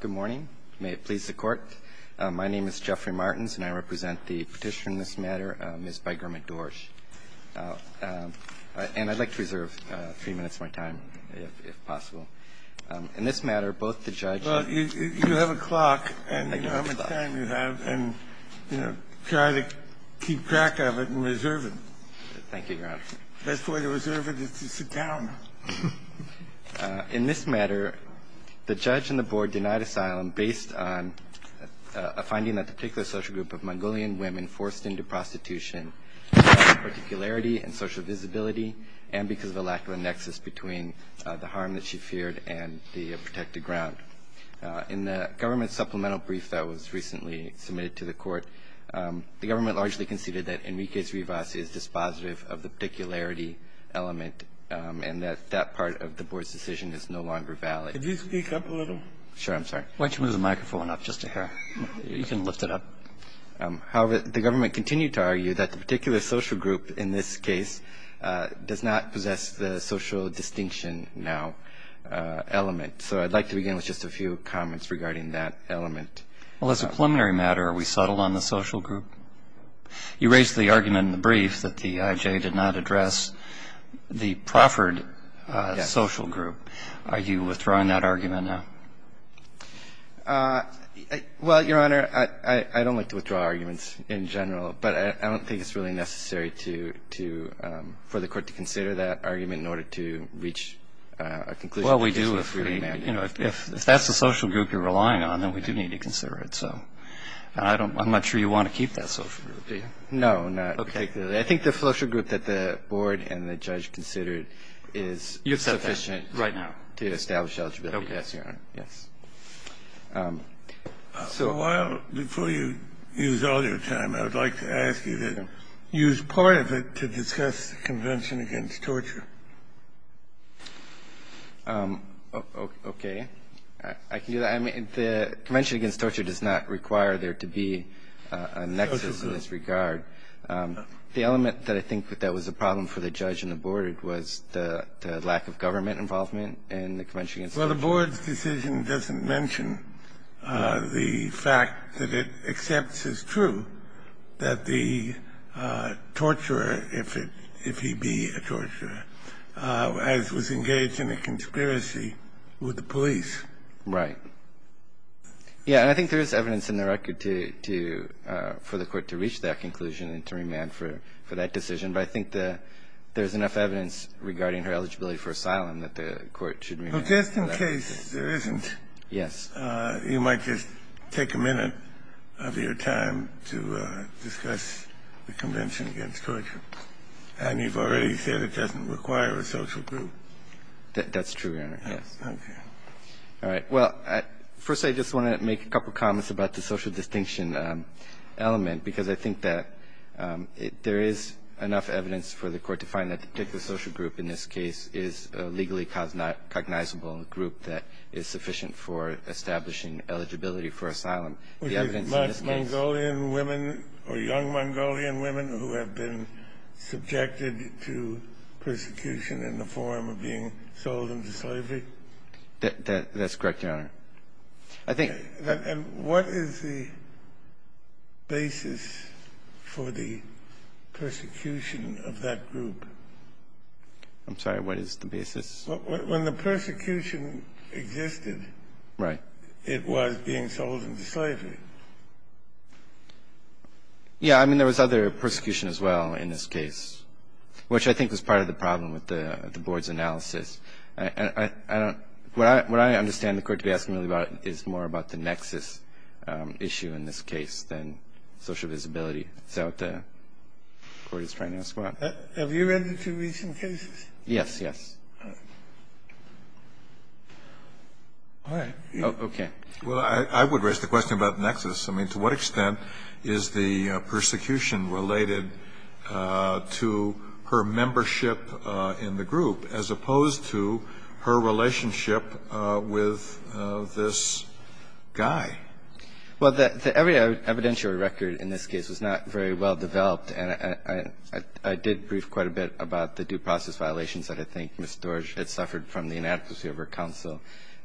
Good morning. May it please the Court, my name is Jeffrey Martins and I represent the petitioner in this matter, Ms. Begerma Dorj. And I'd like to reserve three minutes of my time if possible. In this matter, both the judge and the judge. You have a clock and you know how much time you have and try to keep track of it and reserve it. Thank you, Your Honor. Best way to reserve it is to sit down. In this matter, the judge and the board denied asylum based on a finding that a particular social group of Mongolian women forced into prostitution because of their particularity and social visibility and because of a lack of a nexus between the harm that she feared and the protected ground. In the government supplemental brief that was recently submitted to the court, the government largely conceded that Enriquez Rivas is dispositive of the particularity element and that that part of the board's decision is no longer valid. Could you speak up a little? Sure, I'm sorry. Why don't you move the microphone up just a hair? You can lift it up. However, the government continued to argue that the particular social group in this case does not possess the social distinction now element. So I'd like to begin with just a few comments regarding that element. Well, as a preliminary matter, are we settled on the social group? You raised the argument in the brief that the IJ did not address the proffered social group. Are you withdrawing that argument now? Well, Your Honor, I don't like to withdraw arguments in general, but I don't think it's really necessary for the court to consider that argument in order to reach a conclusion. Well, we do if we're going to. We do need to consider it. So I'm not sure you want to keep that social group, do you? No, not particularly. I think the social group that the board and the judge considered is sufficient. You've said that right now. To establish eligibility. Yes, Your Honor. Yes. So while before you use all your time, I would like to ask you to use part of it to discuss the Convention Against Torture. OK. I can do that. The Convention Against Torture does not require there to be a nexus in this regard. The element that I think that was a problem for the judge and the board was the lack of government involvement in the Convention Against Torture. Well, the board's decision doesn't mention the fact that it accepts as true that the torturer, if he be a torturer, as was engaged in a conspiracy with the police. Right. Yeah, and I think there is evidence in the record to – for the court to reach that conclusion and to remand for that decision. But I think there's enough evidence regarding her eligibility for asylum that the court should remand. Well, just in case there isn't, you might just take a minute of your time to discuss the Convention Against Torture. And you've already said it doesn't require a social group. That's true, Your Honor, yes. OK. All right. Well, first, I just want to make a couple of comments about the social distinction element, because I think that there is enough evidence for the court to find that the particular social group in this case is a legally cognizable group that is sufficient for establishing eligibility for asylum. The evidence in this case – Was it Mongolian women or young Mongolian women who have been subjected to persecution in the form of being sold into slavery? That's correct, Your Honor. I think – And what is the basis for the persecution of that group? I'm sorry. What is the basis? When the persecution existed, it was being sold into slavery. Yeah. I mean, there was other persecution as well in this case, which I think was part of the problem with the Board's analysis. I don't – what I understand the court to be asking really about is more about the nexus issue in this case than social visibility. Is that what the Court is trying to ask about? Have you read the two recent cases? Yes, yes. All right. OK. Well, I would raise the question about the nexus. I mean, to what extent is the persecution related to her membership in the group as opposed to her relationship with this guy? Well, the evidentiary record in this case was not very well developed, and I did brief quite a bit about the due process violations that I think Ms. Doerge had suffered from the inadequacy of her counsel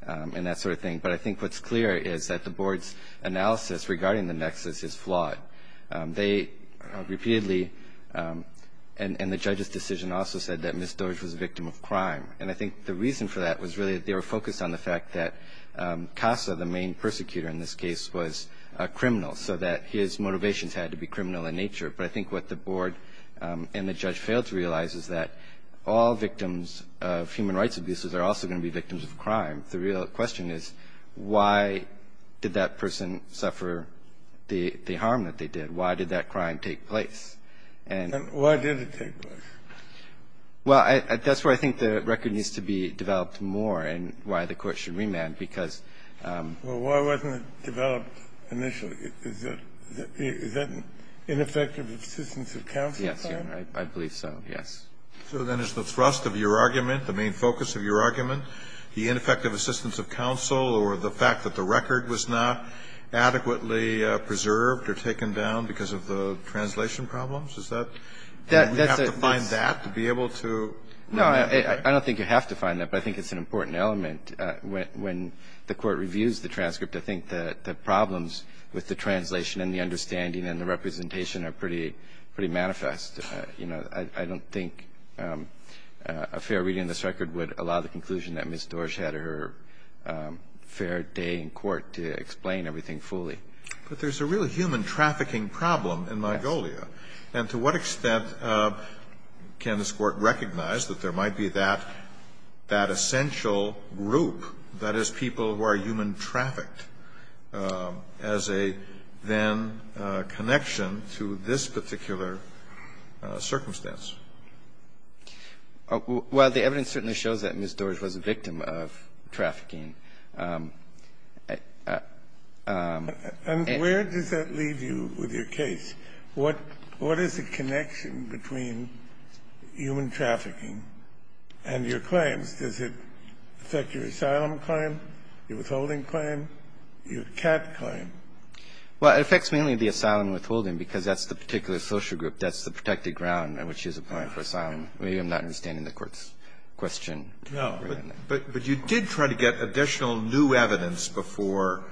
and that sort of thing. But I think what's clear is that the Board's analysis regarding the nexus is flawed. They repeatedly – and the judge's decision also said that Ms. Doerge was a victim of crime. And I think the reason for that was really that they were focused on the fact that Casa, the main persecutor in this case, was a criminal, so that his motivations had to be criminal in nature. But I think what the Board and the judge failed to realize is that all victims of human rights abuses are also going to be victims of crime. The real question is, why did that person suffer the harm that they did? Why did that crime take place? And why did it take place? Well, that's where I think the record needs to be developed more and why the Court should remand, because – Well, why wasn't it developed initially? Is that ineffective assistance of counsel? Yes, Your Honor. I believe so, yes. So then is the thrust of your argument, the main focus of your argument, the ineffective assistance of counsel or the fact that the record was not adequately preserved or taken down because of the translation problems? Is that – And we have to find that to be able to – No, I don't think you have to find that, but I think it's an important element. When the Court reviews the transcript, I think the problems with the translation and the understanding and the representation are pretty – pretty manifest. You know, I don't think a fair reading of this record would allow the conclusion that Ms. Dorsch had her fair day in court to explain everything fully. But there's a real human trafficking problem in Mongolia. Yes. And to what extent can this Court recognize that there might be that – that essential group, that is, people who are human trafficked, as a then connection to this particular circumstance? Well, the evidence certainly shows that Ms. Dorsch was a victim of trafficking. And where does that leave you with your case? What – what is the connection between human trafficking and your claims? Does it affect your asylum claim, your withholding claim, your cat claim? Well, it affects mainly the asylum and withholding because that's the particular social group. That's the protected ground on which she is applying for asylum. Maybe I'm not understanding the Court's question. No. But you did try to get additional new evidence before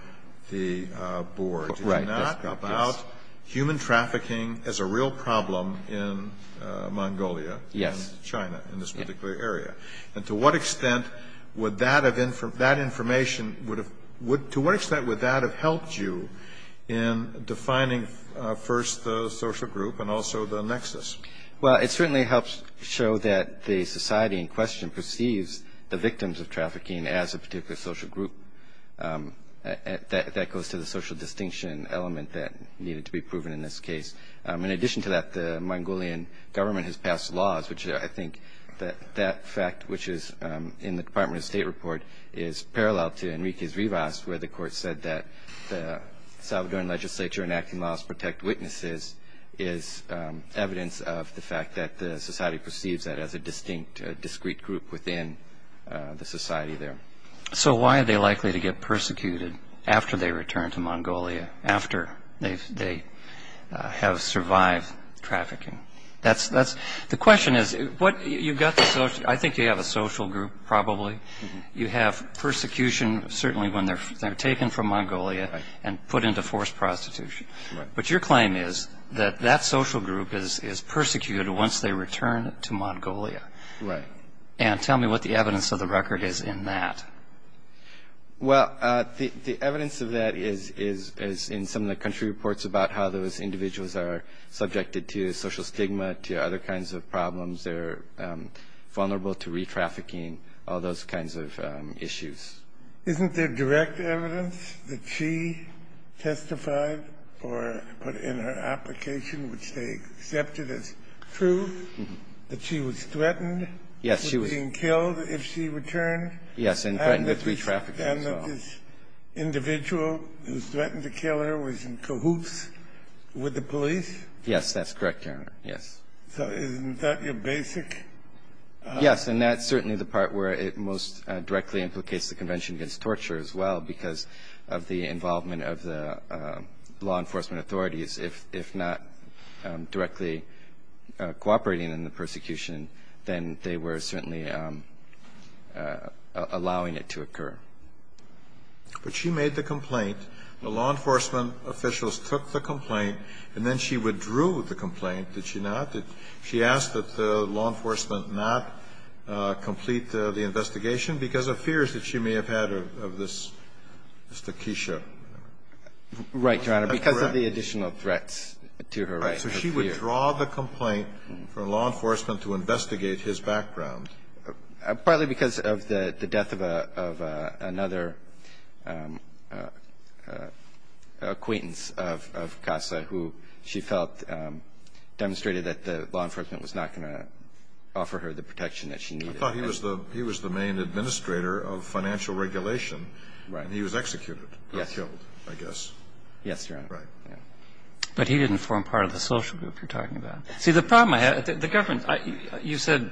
the Board, did you not, about human trafficking as a real problem in Mongolia and China, in this particular area? And to what extent would that have – that information would have – to what extent would that have helped you in defining first the social group and also the nexus? Well, it certainly helps show that the society in question perceives the victims of trafficking as a particular social group. That goes to the social distinction element that needed to be proven in this case. In addition to that, the Mongolian government has passed laws, which I think that fact, which is in the Department of State report, is parallel to Enrique's Rivas, where the Court said that the Salvadoran legislature enacting laws protect witnesses is evidence of the fact that the society perceives that as a distinct, a discrete group within the society there. So why are they likely to get persecuted after they return to Mongolia, after they have survived trafficking? That's – the question is, what – you've got the – I think you have a social group, probably. You have persecution, certainly when they're taken from Mongolia and put into forced prostitution. Right. But your claim is that that social group is persecuted once they return to Mongolia. Right. And tell me what the evidence of the record is in that. Well, the evidence of that is in some of the country reports about how those individuals are subjected to social stigma, to other kinds of problems. They're vulnerable to re-trafficking, all those kinds of issues. Isn't there direct evidence that she testified or put in her application, which they accepted as true, that she was threatened with being killed if she returned? Yes, and threatened with re-trafficking. And that this individual who threatened to kill her was in cahoots with the police? Yes, that's correct, Your Honor. Yes. So isn't that your basic – But she made the complaint, the law enforcement officials took the complaint, and then she withdrew the complaint, did she not? Did she ask that the law enforcement not complete the investigation because of fears that she may have had of this Mr. Keisha? Right, Your Honor, because of the additional threats to her right. So she withdrew the complaint for law enforcement to investigate his background? Partly because of the death of another acquaintance of Kassa, who she felt demonstrated that the law enforcement was not going to offer her the protection that she needed. I thought he was the main administrator of financial regulation, and he was executed, or killed, I guess. Yes, Your Honor. Right. But he didn't form part of the social group you're talking about. See, the problem I have – the government – you said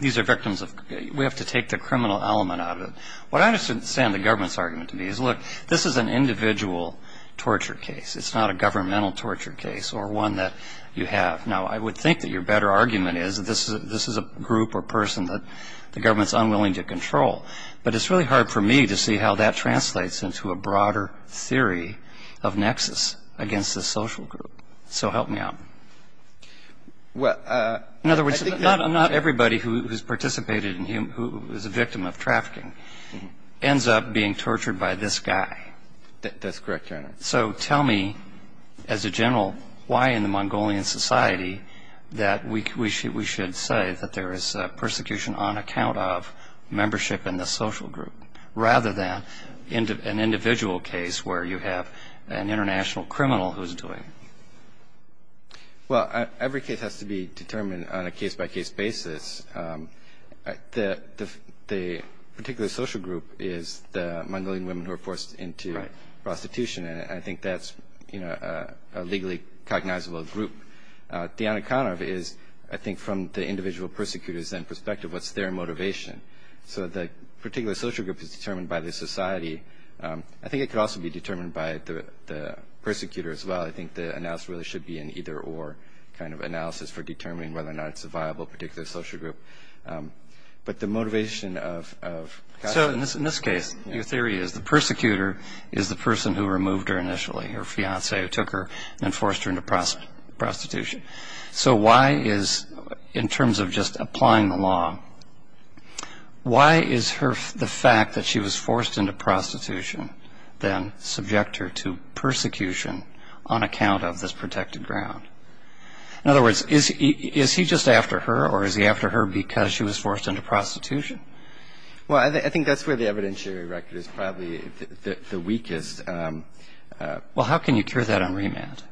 these are victims of – we have to take the criminal element out of it. What I understand the government's argument to be is, look, this is an individual torture case. It's not a governmental torture case or one that you have. Now, I would think that your better argument is that this is a group or person that the government's unwilling to control. But it's really hard for me to see how that translates into a broader theory of nexus against the social group. So help me out. In other words, not everybody who's participated in – who is a victim of trafficking ends up being tortured by this guy. That's correct, Your Honor. So tell me, as a general, why in the Mongolian society that we should say that there is persecution on account of membership in the social group, rather than an individual case where you have an international criminal who's doing it? Well, every case has to be determined on a case-by-case basis. The particular social group is the Mongolian women who are forced into prostitution. And I think that's a legally cognizable group. Diana Konov is, I think, from the individual persecutor's end perspective, what's their motivation. So the particular social group is determined by the society. I think it could also be determined by the persecutor as well. I think the analysis really should be an either-or kind of analysis for determining whether or not it's a viable particular social group. But the motivation of – So in this case, your theory is the persecutor is the person who removed her initially, her fiancé, who took her and forced her into prostitution. So why is – in terms of just applying the law, why is the fact that she was forced into prostitution then subject her to persecution on account of this protected ground? In other words, is he just after her, or is he after her because she was forced into prostitution? Well, I think that's where the evidentiary record is probably the weakest – Well, how can you cure that on remand?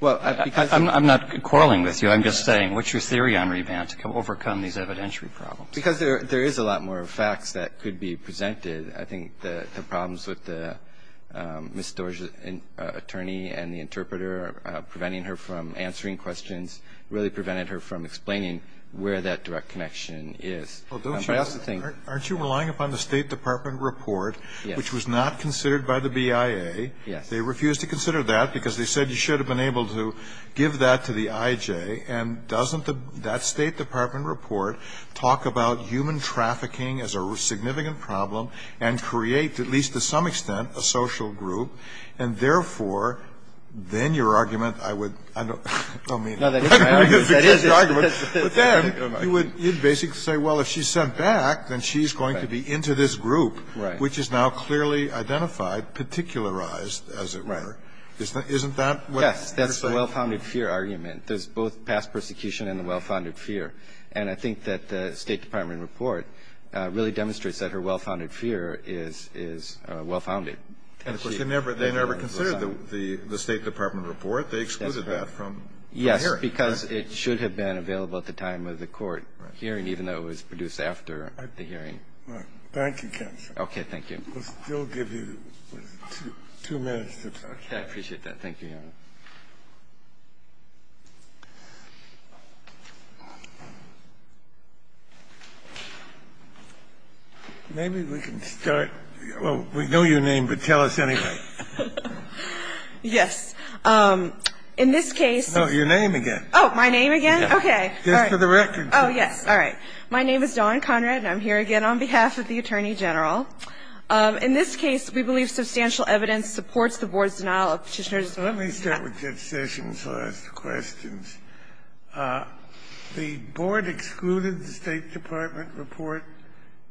Well, because – I'm not quarreling with you. I'm just saying, what's your theory on remand to overcome these evidentiary problems? Because there is a lot more facts that could be presented. I think the problems with the – Ms. Storj's attorney and the interpreter preventing her from answering questions really prevented her from explaining where that direct connection is. But I also think – Aren't you relying upon the State Department report, which was not considered by the BIA? Yes. They refused to consider that because they said you should have been able to give that to the IJ. And doesn't that State Department report talk about human trafficking as a significant problem and create, at least to some extent, a social group, and therefore, then your argument, I would – I don't mean – No, that is my argument. That is your argument. But then you would basically say, well, if she's sent back, then she's going to be into this group, which is now clearly identified, particularized, as it were. Right. Isn't that what you're saying? Yes. That's a well-founded fear argument. There's both past persecution and the well-founded fear. And I think that the State Department report really demonstrates that her well-founded fear is – is well-founded. And of course, they never – they never considered the State Department report. They excluded that from the hearing. Yes, because it should have been available at the time of the court hearing, even though it was produced after the hearing. Thank you, counsel. Okay. Thank you. We'll still give you two minutes to talk. I appreciate that. Thank you, Your Honor. Maybe we can start – well, we know your name, but tell us anyway. Yes. In this case – No, your name again. Oh, my name again? Okay. Just for the record. Oh, yes. All right. My name is Dawn Conrad, and I'm here again on behalf of the Attorney General. In this case, we believe substantial evidence supports the Board's denial of Petitioner's claim that Petitioner's claim was duplicated. So let me start with Judge Sessions, so I'll ask the questions. The Board excluded the State Department report,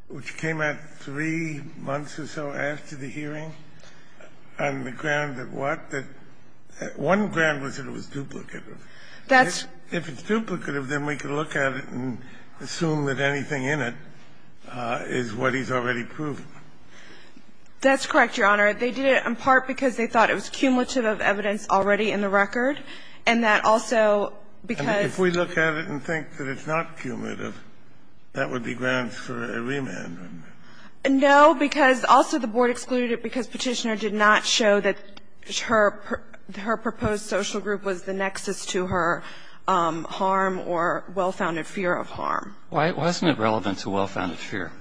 which came out three months or so after the hearing, on the ground that what? That one ground was that it was duplicative. That's – If it's duplicative, then we can look at it and assume that anything in it is what he's already proved. That's correct, Your Honor. They did it in part because they thought it was cumulative of evidence already in the record, and that also because – If we look at it and think that it's not cumulative, that would be grounds for a remand. No, because also the Board excluded it because Petitioner did not show that her proposed social group was the nexus to her harm or well-founded fear of harm. Why isn't it relevant to well-founded fear?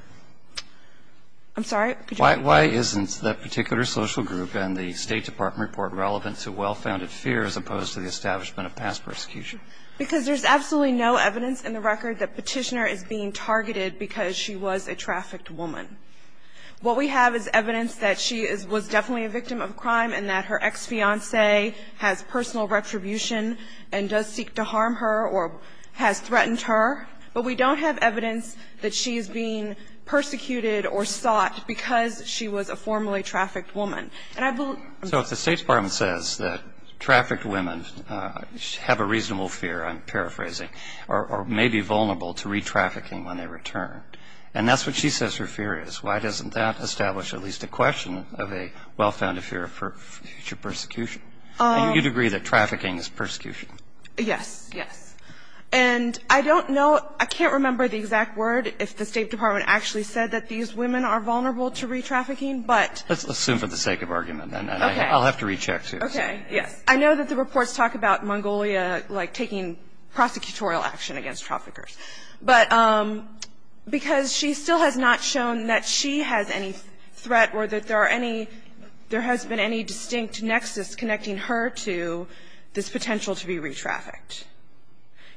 I'm sorry? Could you repeat? Why isn't that particular social group and the State Department report relevant to well-founded fear as opposed to the establishment of past persecution? Because there's absolutely no evidence in the record that Petitioner is being targeted because she was a trafficked woman. What we have is evidence that she was definitely a victim of crime and that her ex-fiancé has personal retribution and does seek to harm her or has threatened her, but we don't have evidence that she's being persecuted or sought because she was a formerly trafficked woman. And I believe – So if the State Department says that trafficked women have a reasonable fear, I'm paraphrasing, or may be vulnerable to re-trafficking when they return, and that's what she says her fear is, why doesn't that establish at least a question of a well-founded fear of future persecution? And you'd agree that trafficking is persecution? Yes. Yes. And I don't know – I can't remember the exact word if the State Department actually said that these women are vulnerable to re-trafficking, but – Let's assume for the sake of argument, and I'll have to recheck, too. Okay. Yes. I know that the reports talk about Mongolia, like, taking prosecutorial action against traffickers, but – because she still has not shown that she has any threat or that there are any – there has been any distinct nexus connecting her to this potential to be re-trafficked.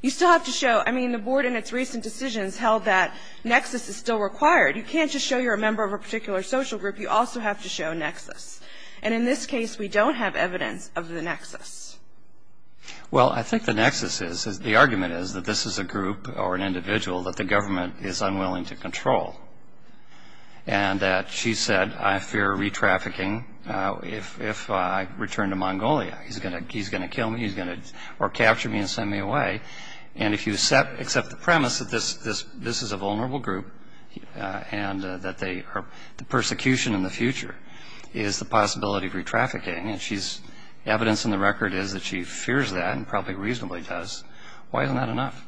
You still have to show – I mean, the board in its recent decisions held that nexus is still required. You can't just show you're a member of a particular social group. You also have to show nexus. And in this case, we don't have evidence of the nexus. Well, I think the nexus is – the argument is that this is a group or an individual that the government is unwilling to control, and that she said, I fear re-trafficking if I return to Mongolia. He's going to kill me. He's going to – or capture me and send me away. And if you accept the premise that this is a vulnerable group and that they are – the persecution in the future is the possibility of re-trafficking, and she's – evidence in the record is that she fears that and probably reasonably does. Why isn't that enough?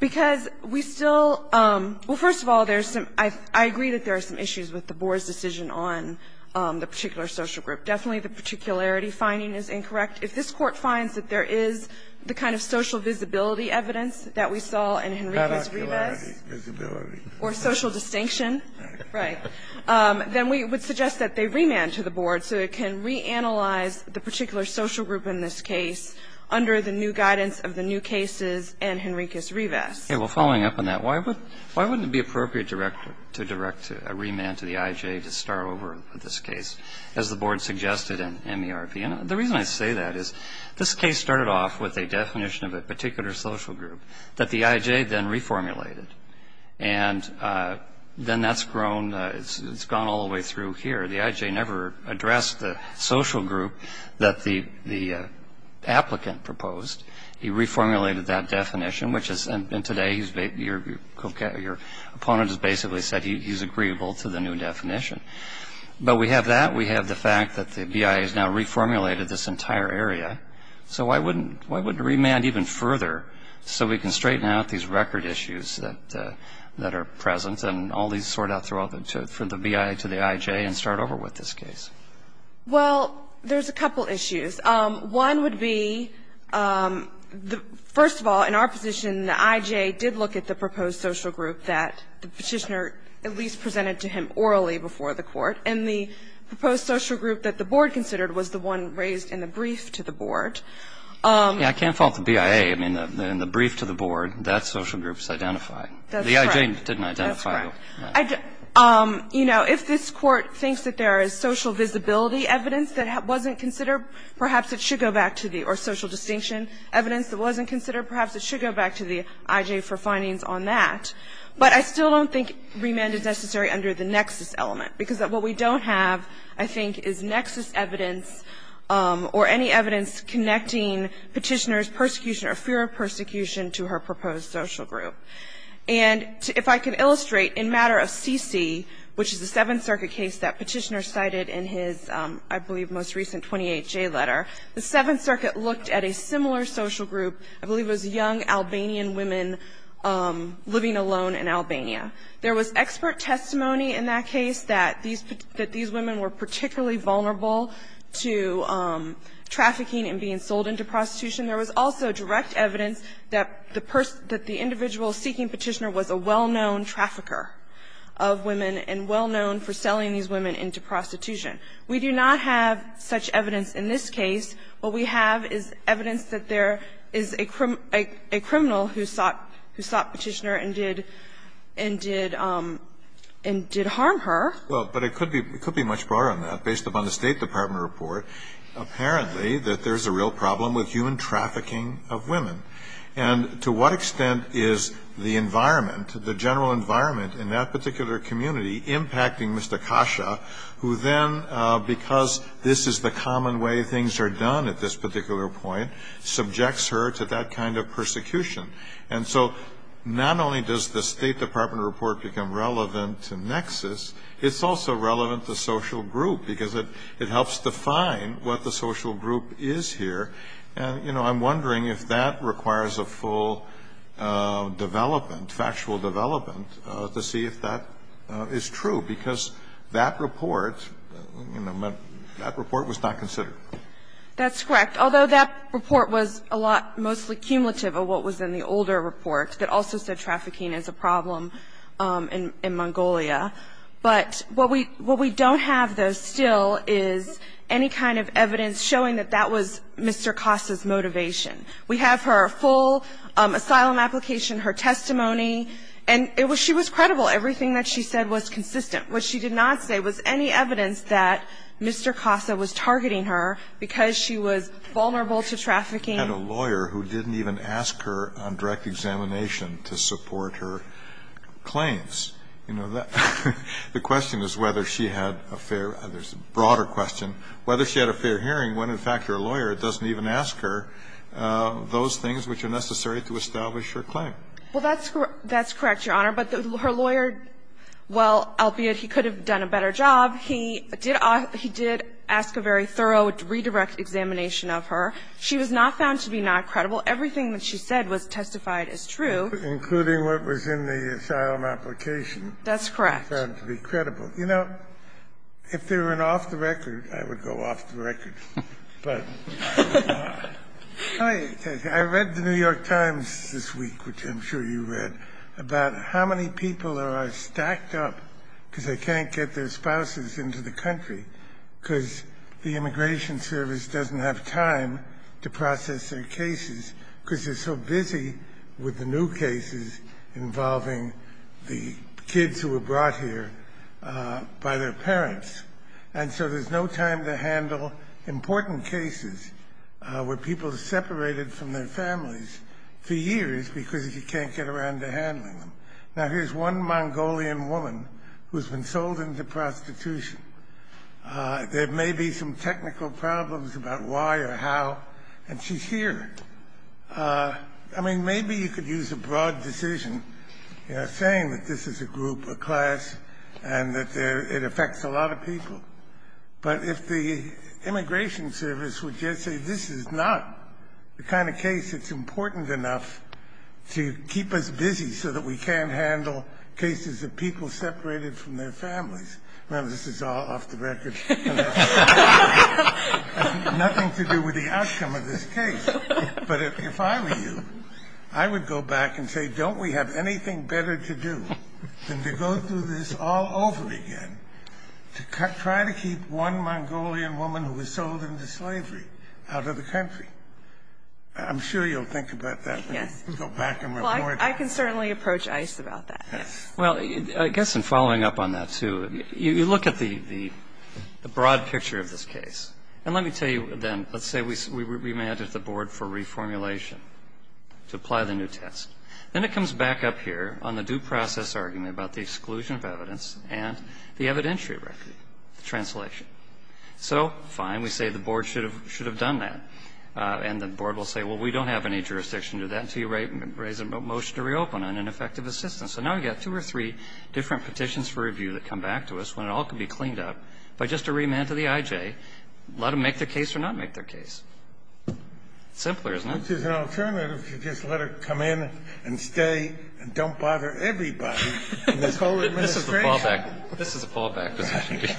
Because we still – well, first of all, there's some – I agree that there are some issues with the board's decision on the particular social group. Definitely the particularity finding is incorrect. If this Court finds that there is the kind of social visibility evidence that we saw in Henriquez-Rivas or social distinction, right, then we would suggest that they remand to the board so it can reanalyze the particular social group in this case under the new guidance of the new cases and Henriquez-Rivas. Okay. Well, following up on that, why would – why wouldn't it be appropriate to direct a remand to the IJ to start over with this case, as the board suggested in the MRV? And the reason I say that is this case started off with a definition of a particular social group that the IJ then reformulated. And then that's grown – it's gone all the way through here. The IJ never addressed the social group that the applicant proposed. He reformulated that definition, which is – and today he's – your opponent has basically said he's agreeable to the new definition. But we have that. We have the fact that the BIA has now reformulated this entire area. So why wouldn't – why wouldn't it remand even further so we can straighten out these record issues that are present and all these sort out through all the – from the BIA to the IJ and start over with this case? Well, there's a couple issues. One would be the – first of all, in our position, the IJ did look at the proposed social group that the Petitioner at least presented to him orally before the Court. And the proposed social group that the board considered was the one raised in the brief to the board. Yeah. I can't fault the BIA. I mean, in the brief to the board, that social group is identified. The IJ didn't identify it. That's correct. You know, if this Court thinks that there is social visibility evidence that wasn't considered, perhaps it should go back to the – or social distinction evidence that wasn't But I still don't think remand is necessary under the nexus element, because what we don't have, I think, is nexus evidence or any evidence connecting Petitioner's persecution or fear of persecution to her proposed social group. And if I can illustrate, in matter of CC, which is the Seventh Circuit case that Petitioner cited in his, I believe, most recent 28-J letter, the Seventh Circuit looked at a similar social group, I believe it was young Albanian women living alone in Albania. There was expert testimony in that case that these women were particularly vulnerable to trafficking and being sold into prostitution. There was also direct evidence that the individual seeking Petitioner was a well-known trafficker of women and well-known for selling these women into prostitution. We do not have such evidence in this case. What we have is evidence that there is a criminal who sought Petitioner and did harm her. Well, but it could be much broader than that. Based upon the State Department report, apparently that there's a real problem with human trafficking of women. And to what extent is the environment, the general environment in that particular community impacting Mr. Kasha, who then, because this is the common way things are done at this particular point, subjects her to that kind of persecution. And so not only does the State Department report become relevant to Nexus, it's also relevant to social group because it helps define what the social group is here. And, you know, I'm wondering if that requires a full development, factual development, to see if that is true, because that report, you know, that report was not considered. That's correct. Although that report was a lot mostly cumulative of what was in the older report that also said trafficking is a problem in Mongolia. But what we don't have, though, still is any kind of evidence showing that that was Mr. Kasha's motivation. We have her full asylum application, her testimony, and it was she was credible. Everything that she said was consistent. What she did not say was any evidence that Mr. Kasha was targeting her because she was vulnerable to trafficking. And a lawyer who didn't even ask her on direct examination to support her claims. You know, the question is whether she had a fair or there's a broader question, whether she had a fair hearing when, in fact, her lawyer doesn't even ask her. Those things which are necessary to establish her claim. Well, that's correct, Your Honor. But her lawyer, well, albeit he could have done a better job, he did ask a very thorough redirect examination of her. She was not found to be not credible. Everything that she said was testified as true. Including what was in the asylum application. That's correct. It was found to be credible. You know, if there were an off-the-record, I would go off-the-record. But. Hi, I read the New York Times this week, which I'm sure you read, about how many people are stacked up because they can't get their spouses into the country because the immigration service doesn't have time to process their cases because they're so busy with the new cases involving the kids who were brought here by their parents. And so there's no time to handle important cases where people are separated from their families for years because you can't get around to handling them. Now, here's one Mongolian woman who's been sold into prostitution. There may be some technical problems about why or how. And she's here. I mean, maybe you could use a broad decision saying that this is a group, a class, and that it affects a lot of people. But if the immigration service would just say, this is not the kind of case that's important enough to keep us busy so that we can't handle cases of people separated from their families. Now, this is all off the record. Nothing to do with the outcome of this case. But if I were you, I would go back and say, don't we have anything better to do than to go through this all over again to try to keep one Mongolian woman who was sold into slavery out of the country? I'm sure you'll think about that when you go back and report. I can certainly approach ICE about that. Well, I guess in following up on that too, you look at the broad picture of this case. And let me tell you then, let's say we manage the board for reformulation to apply the new test. Then it comes back up here on the due process argument about the exclusion of evidence and the evidentiary record, the translation. So, fine, we say the board should have done that. And the board will say, well, we don't have any jurisdiction to that until you raise a motion to reopen on an effective assistance. So now we've got two or three different petitions for review that come back to us when it all can be cleaned up. But just to remand to the IJ, let them make their case or not make their case. Simpler, isn't it? Which is an alternative to just let her come in and stay and don't bother everybody. And they totally misapprehend her. This is a fallback position.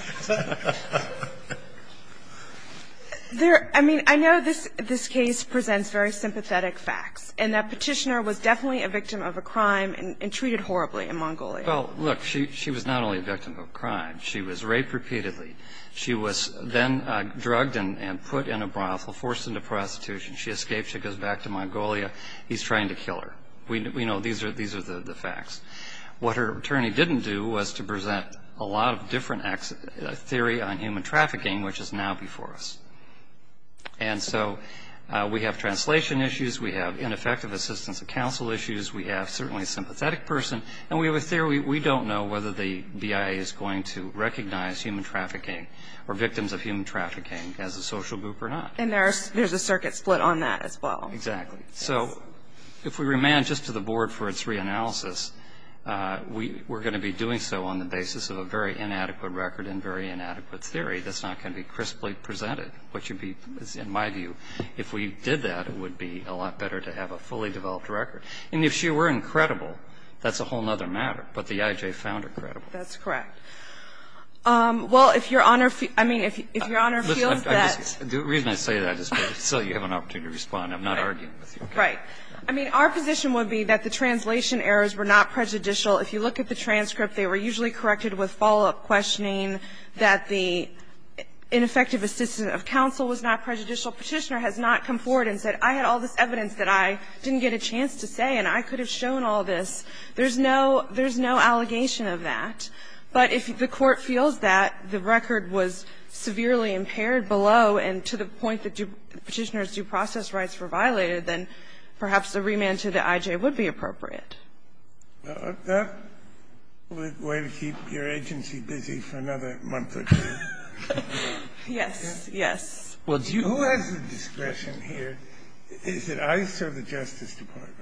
I mean, I know this case presents very sympathetic facts, and that Petitioner was definitely a victim of a crime and treated horribly in Mongolia. Well, look, she was not only a victim of a crime. She was raped repeatedly. She was then drugged and put in a brothel, forced into prostitution. She escaped. She goes back to Mongolia. He's trying to kill her. We know these are the facts. What her attorney didn't do was to present a lot of different theory on human trafficking, which is now before us. And so we have translation issues. We have ineffective assistance of counsel issues. We have certainly a sympathetic person. And we have a theory. We don't know whether the BIA is going to recognize human trafficking or victims of human trafficking as a social group or not. And there's a circuit split on that as well. Exactly. So if we remand just to the board for its reanalysis, we're going to be doing so on the basis of a very inadequate record and very inadequate theory. That's not going to be crisply presented, which would be, in my view, if we did that, it would be a lot better to have a fully developed record. And if she were incredible, that's a whole other matter. But the IJ found her credible. Well, if Your Honor feels that the reason I say that is because I think you have an opportunity to respond. I'm not arguing with you. Right. I mean, our position would be that the translation errors were not prejudicial. If you look at the transcript, they were usually corrected with follow-up questioning that the ineffective assistance of counsel was not prejudicial. Petitioner has not come forward and said, I had all this evidence that I didn't get a chance to say, and I could have shown all this. There's no allegation of that. But if the Court feels that the record was severely impaired below and to the point that Petitioner's due process rights were violated, then perhaps a remand to the IJ would be appropriate. That would be a way to keep your agency busy for another month or two. Yes, yes. Who has the discretion here? Is it ICE or the Justice Department?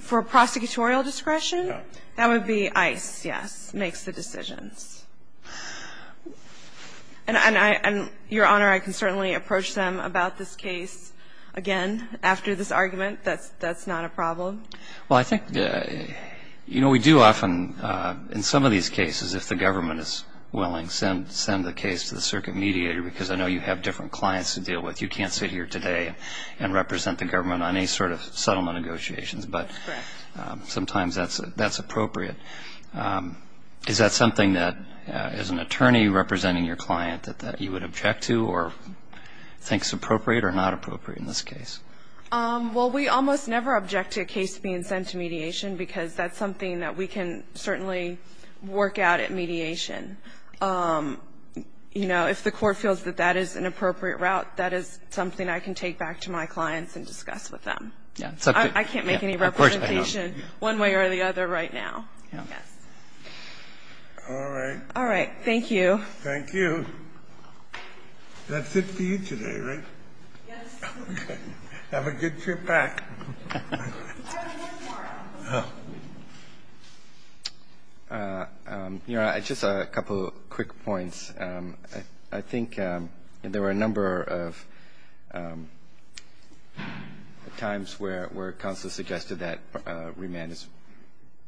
For prosecutorial discretion? No. That would be ICE, yes, makes the decisions. And, Your Honor, I can certainly approach them about this case again after this argument. That's not a problem. Well, I think, you know, we do often in some of these cases, if the government is willing, send the case to the circuit mediator, because I know you have different clients to deal with. You can't sit here today and represent the government on any sort of settlement negotiations. Correct. But sometimes that's appropriate. Is that something that, as an attorney representing your client, that you would object to or think is appropriate or not appropriate in this case? Well, we almost never object to a case being sent to mediation, because that's something that we can certainly work out at mediation. You know, if the Court feels that that is an appropriate route, that is something I can take back to my clients and discuss with them. I can't make any representation one way or the other right now. All right. All right. Thank you. Thank you. That's it for you today, right? Yes. Okay. Have a good trip back. I have one more. Your Honor, just a couple of quick points. I think there were a number of times where counsel suggested that remand is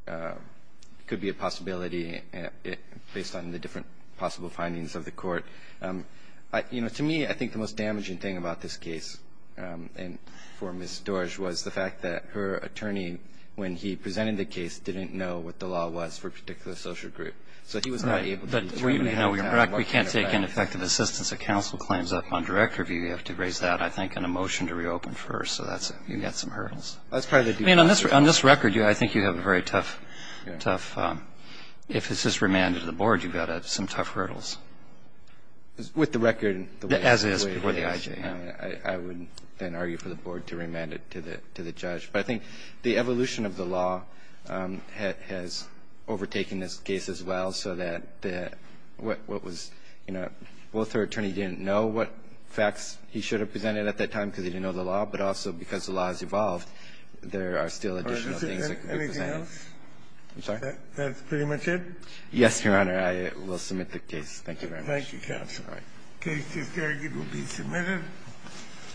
a possibility based on the different possible findings of the Court. You know, to me, I think the most damaging thing about this case for Ms. Doerge was the fact that her attorney, when he presented the case, didn't know what the law was for a particular social group. So he was not able to determine how it worked in her favor. We can't take ineffective assistance of counsel claims up on direct review. You have to raise that, I think, in a motion to reopen first. So you've got some hurdles. That's part of the due process. I mean, on this record, I think you have a very tough, tough, if this is remanded to the Board, you've got some tough hurdles. With the record, the way it is, I would then argue for the Board to remand it to the judge. But I think the evolution of the law has overtaken this case as well, so that what was, you know, both her attorney didn't know what facts he should have presented at that time because he didn't know the law, but also because the law has evolved, there are still additional things that could be presented. I'm sorry? That's pretty much it? Yes, Your Honor. I will submit the case. Thank you very much. Thank you, counsel. All right. The case is carried. It will be submitted.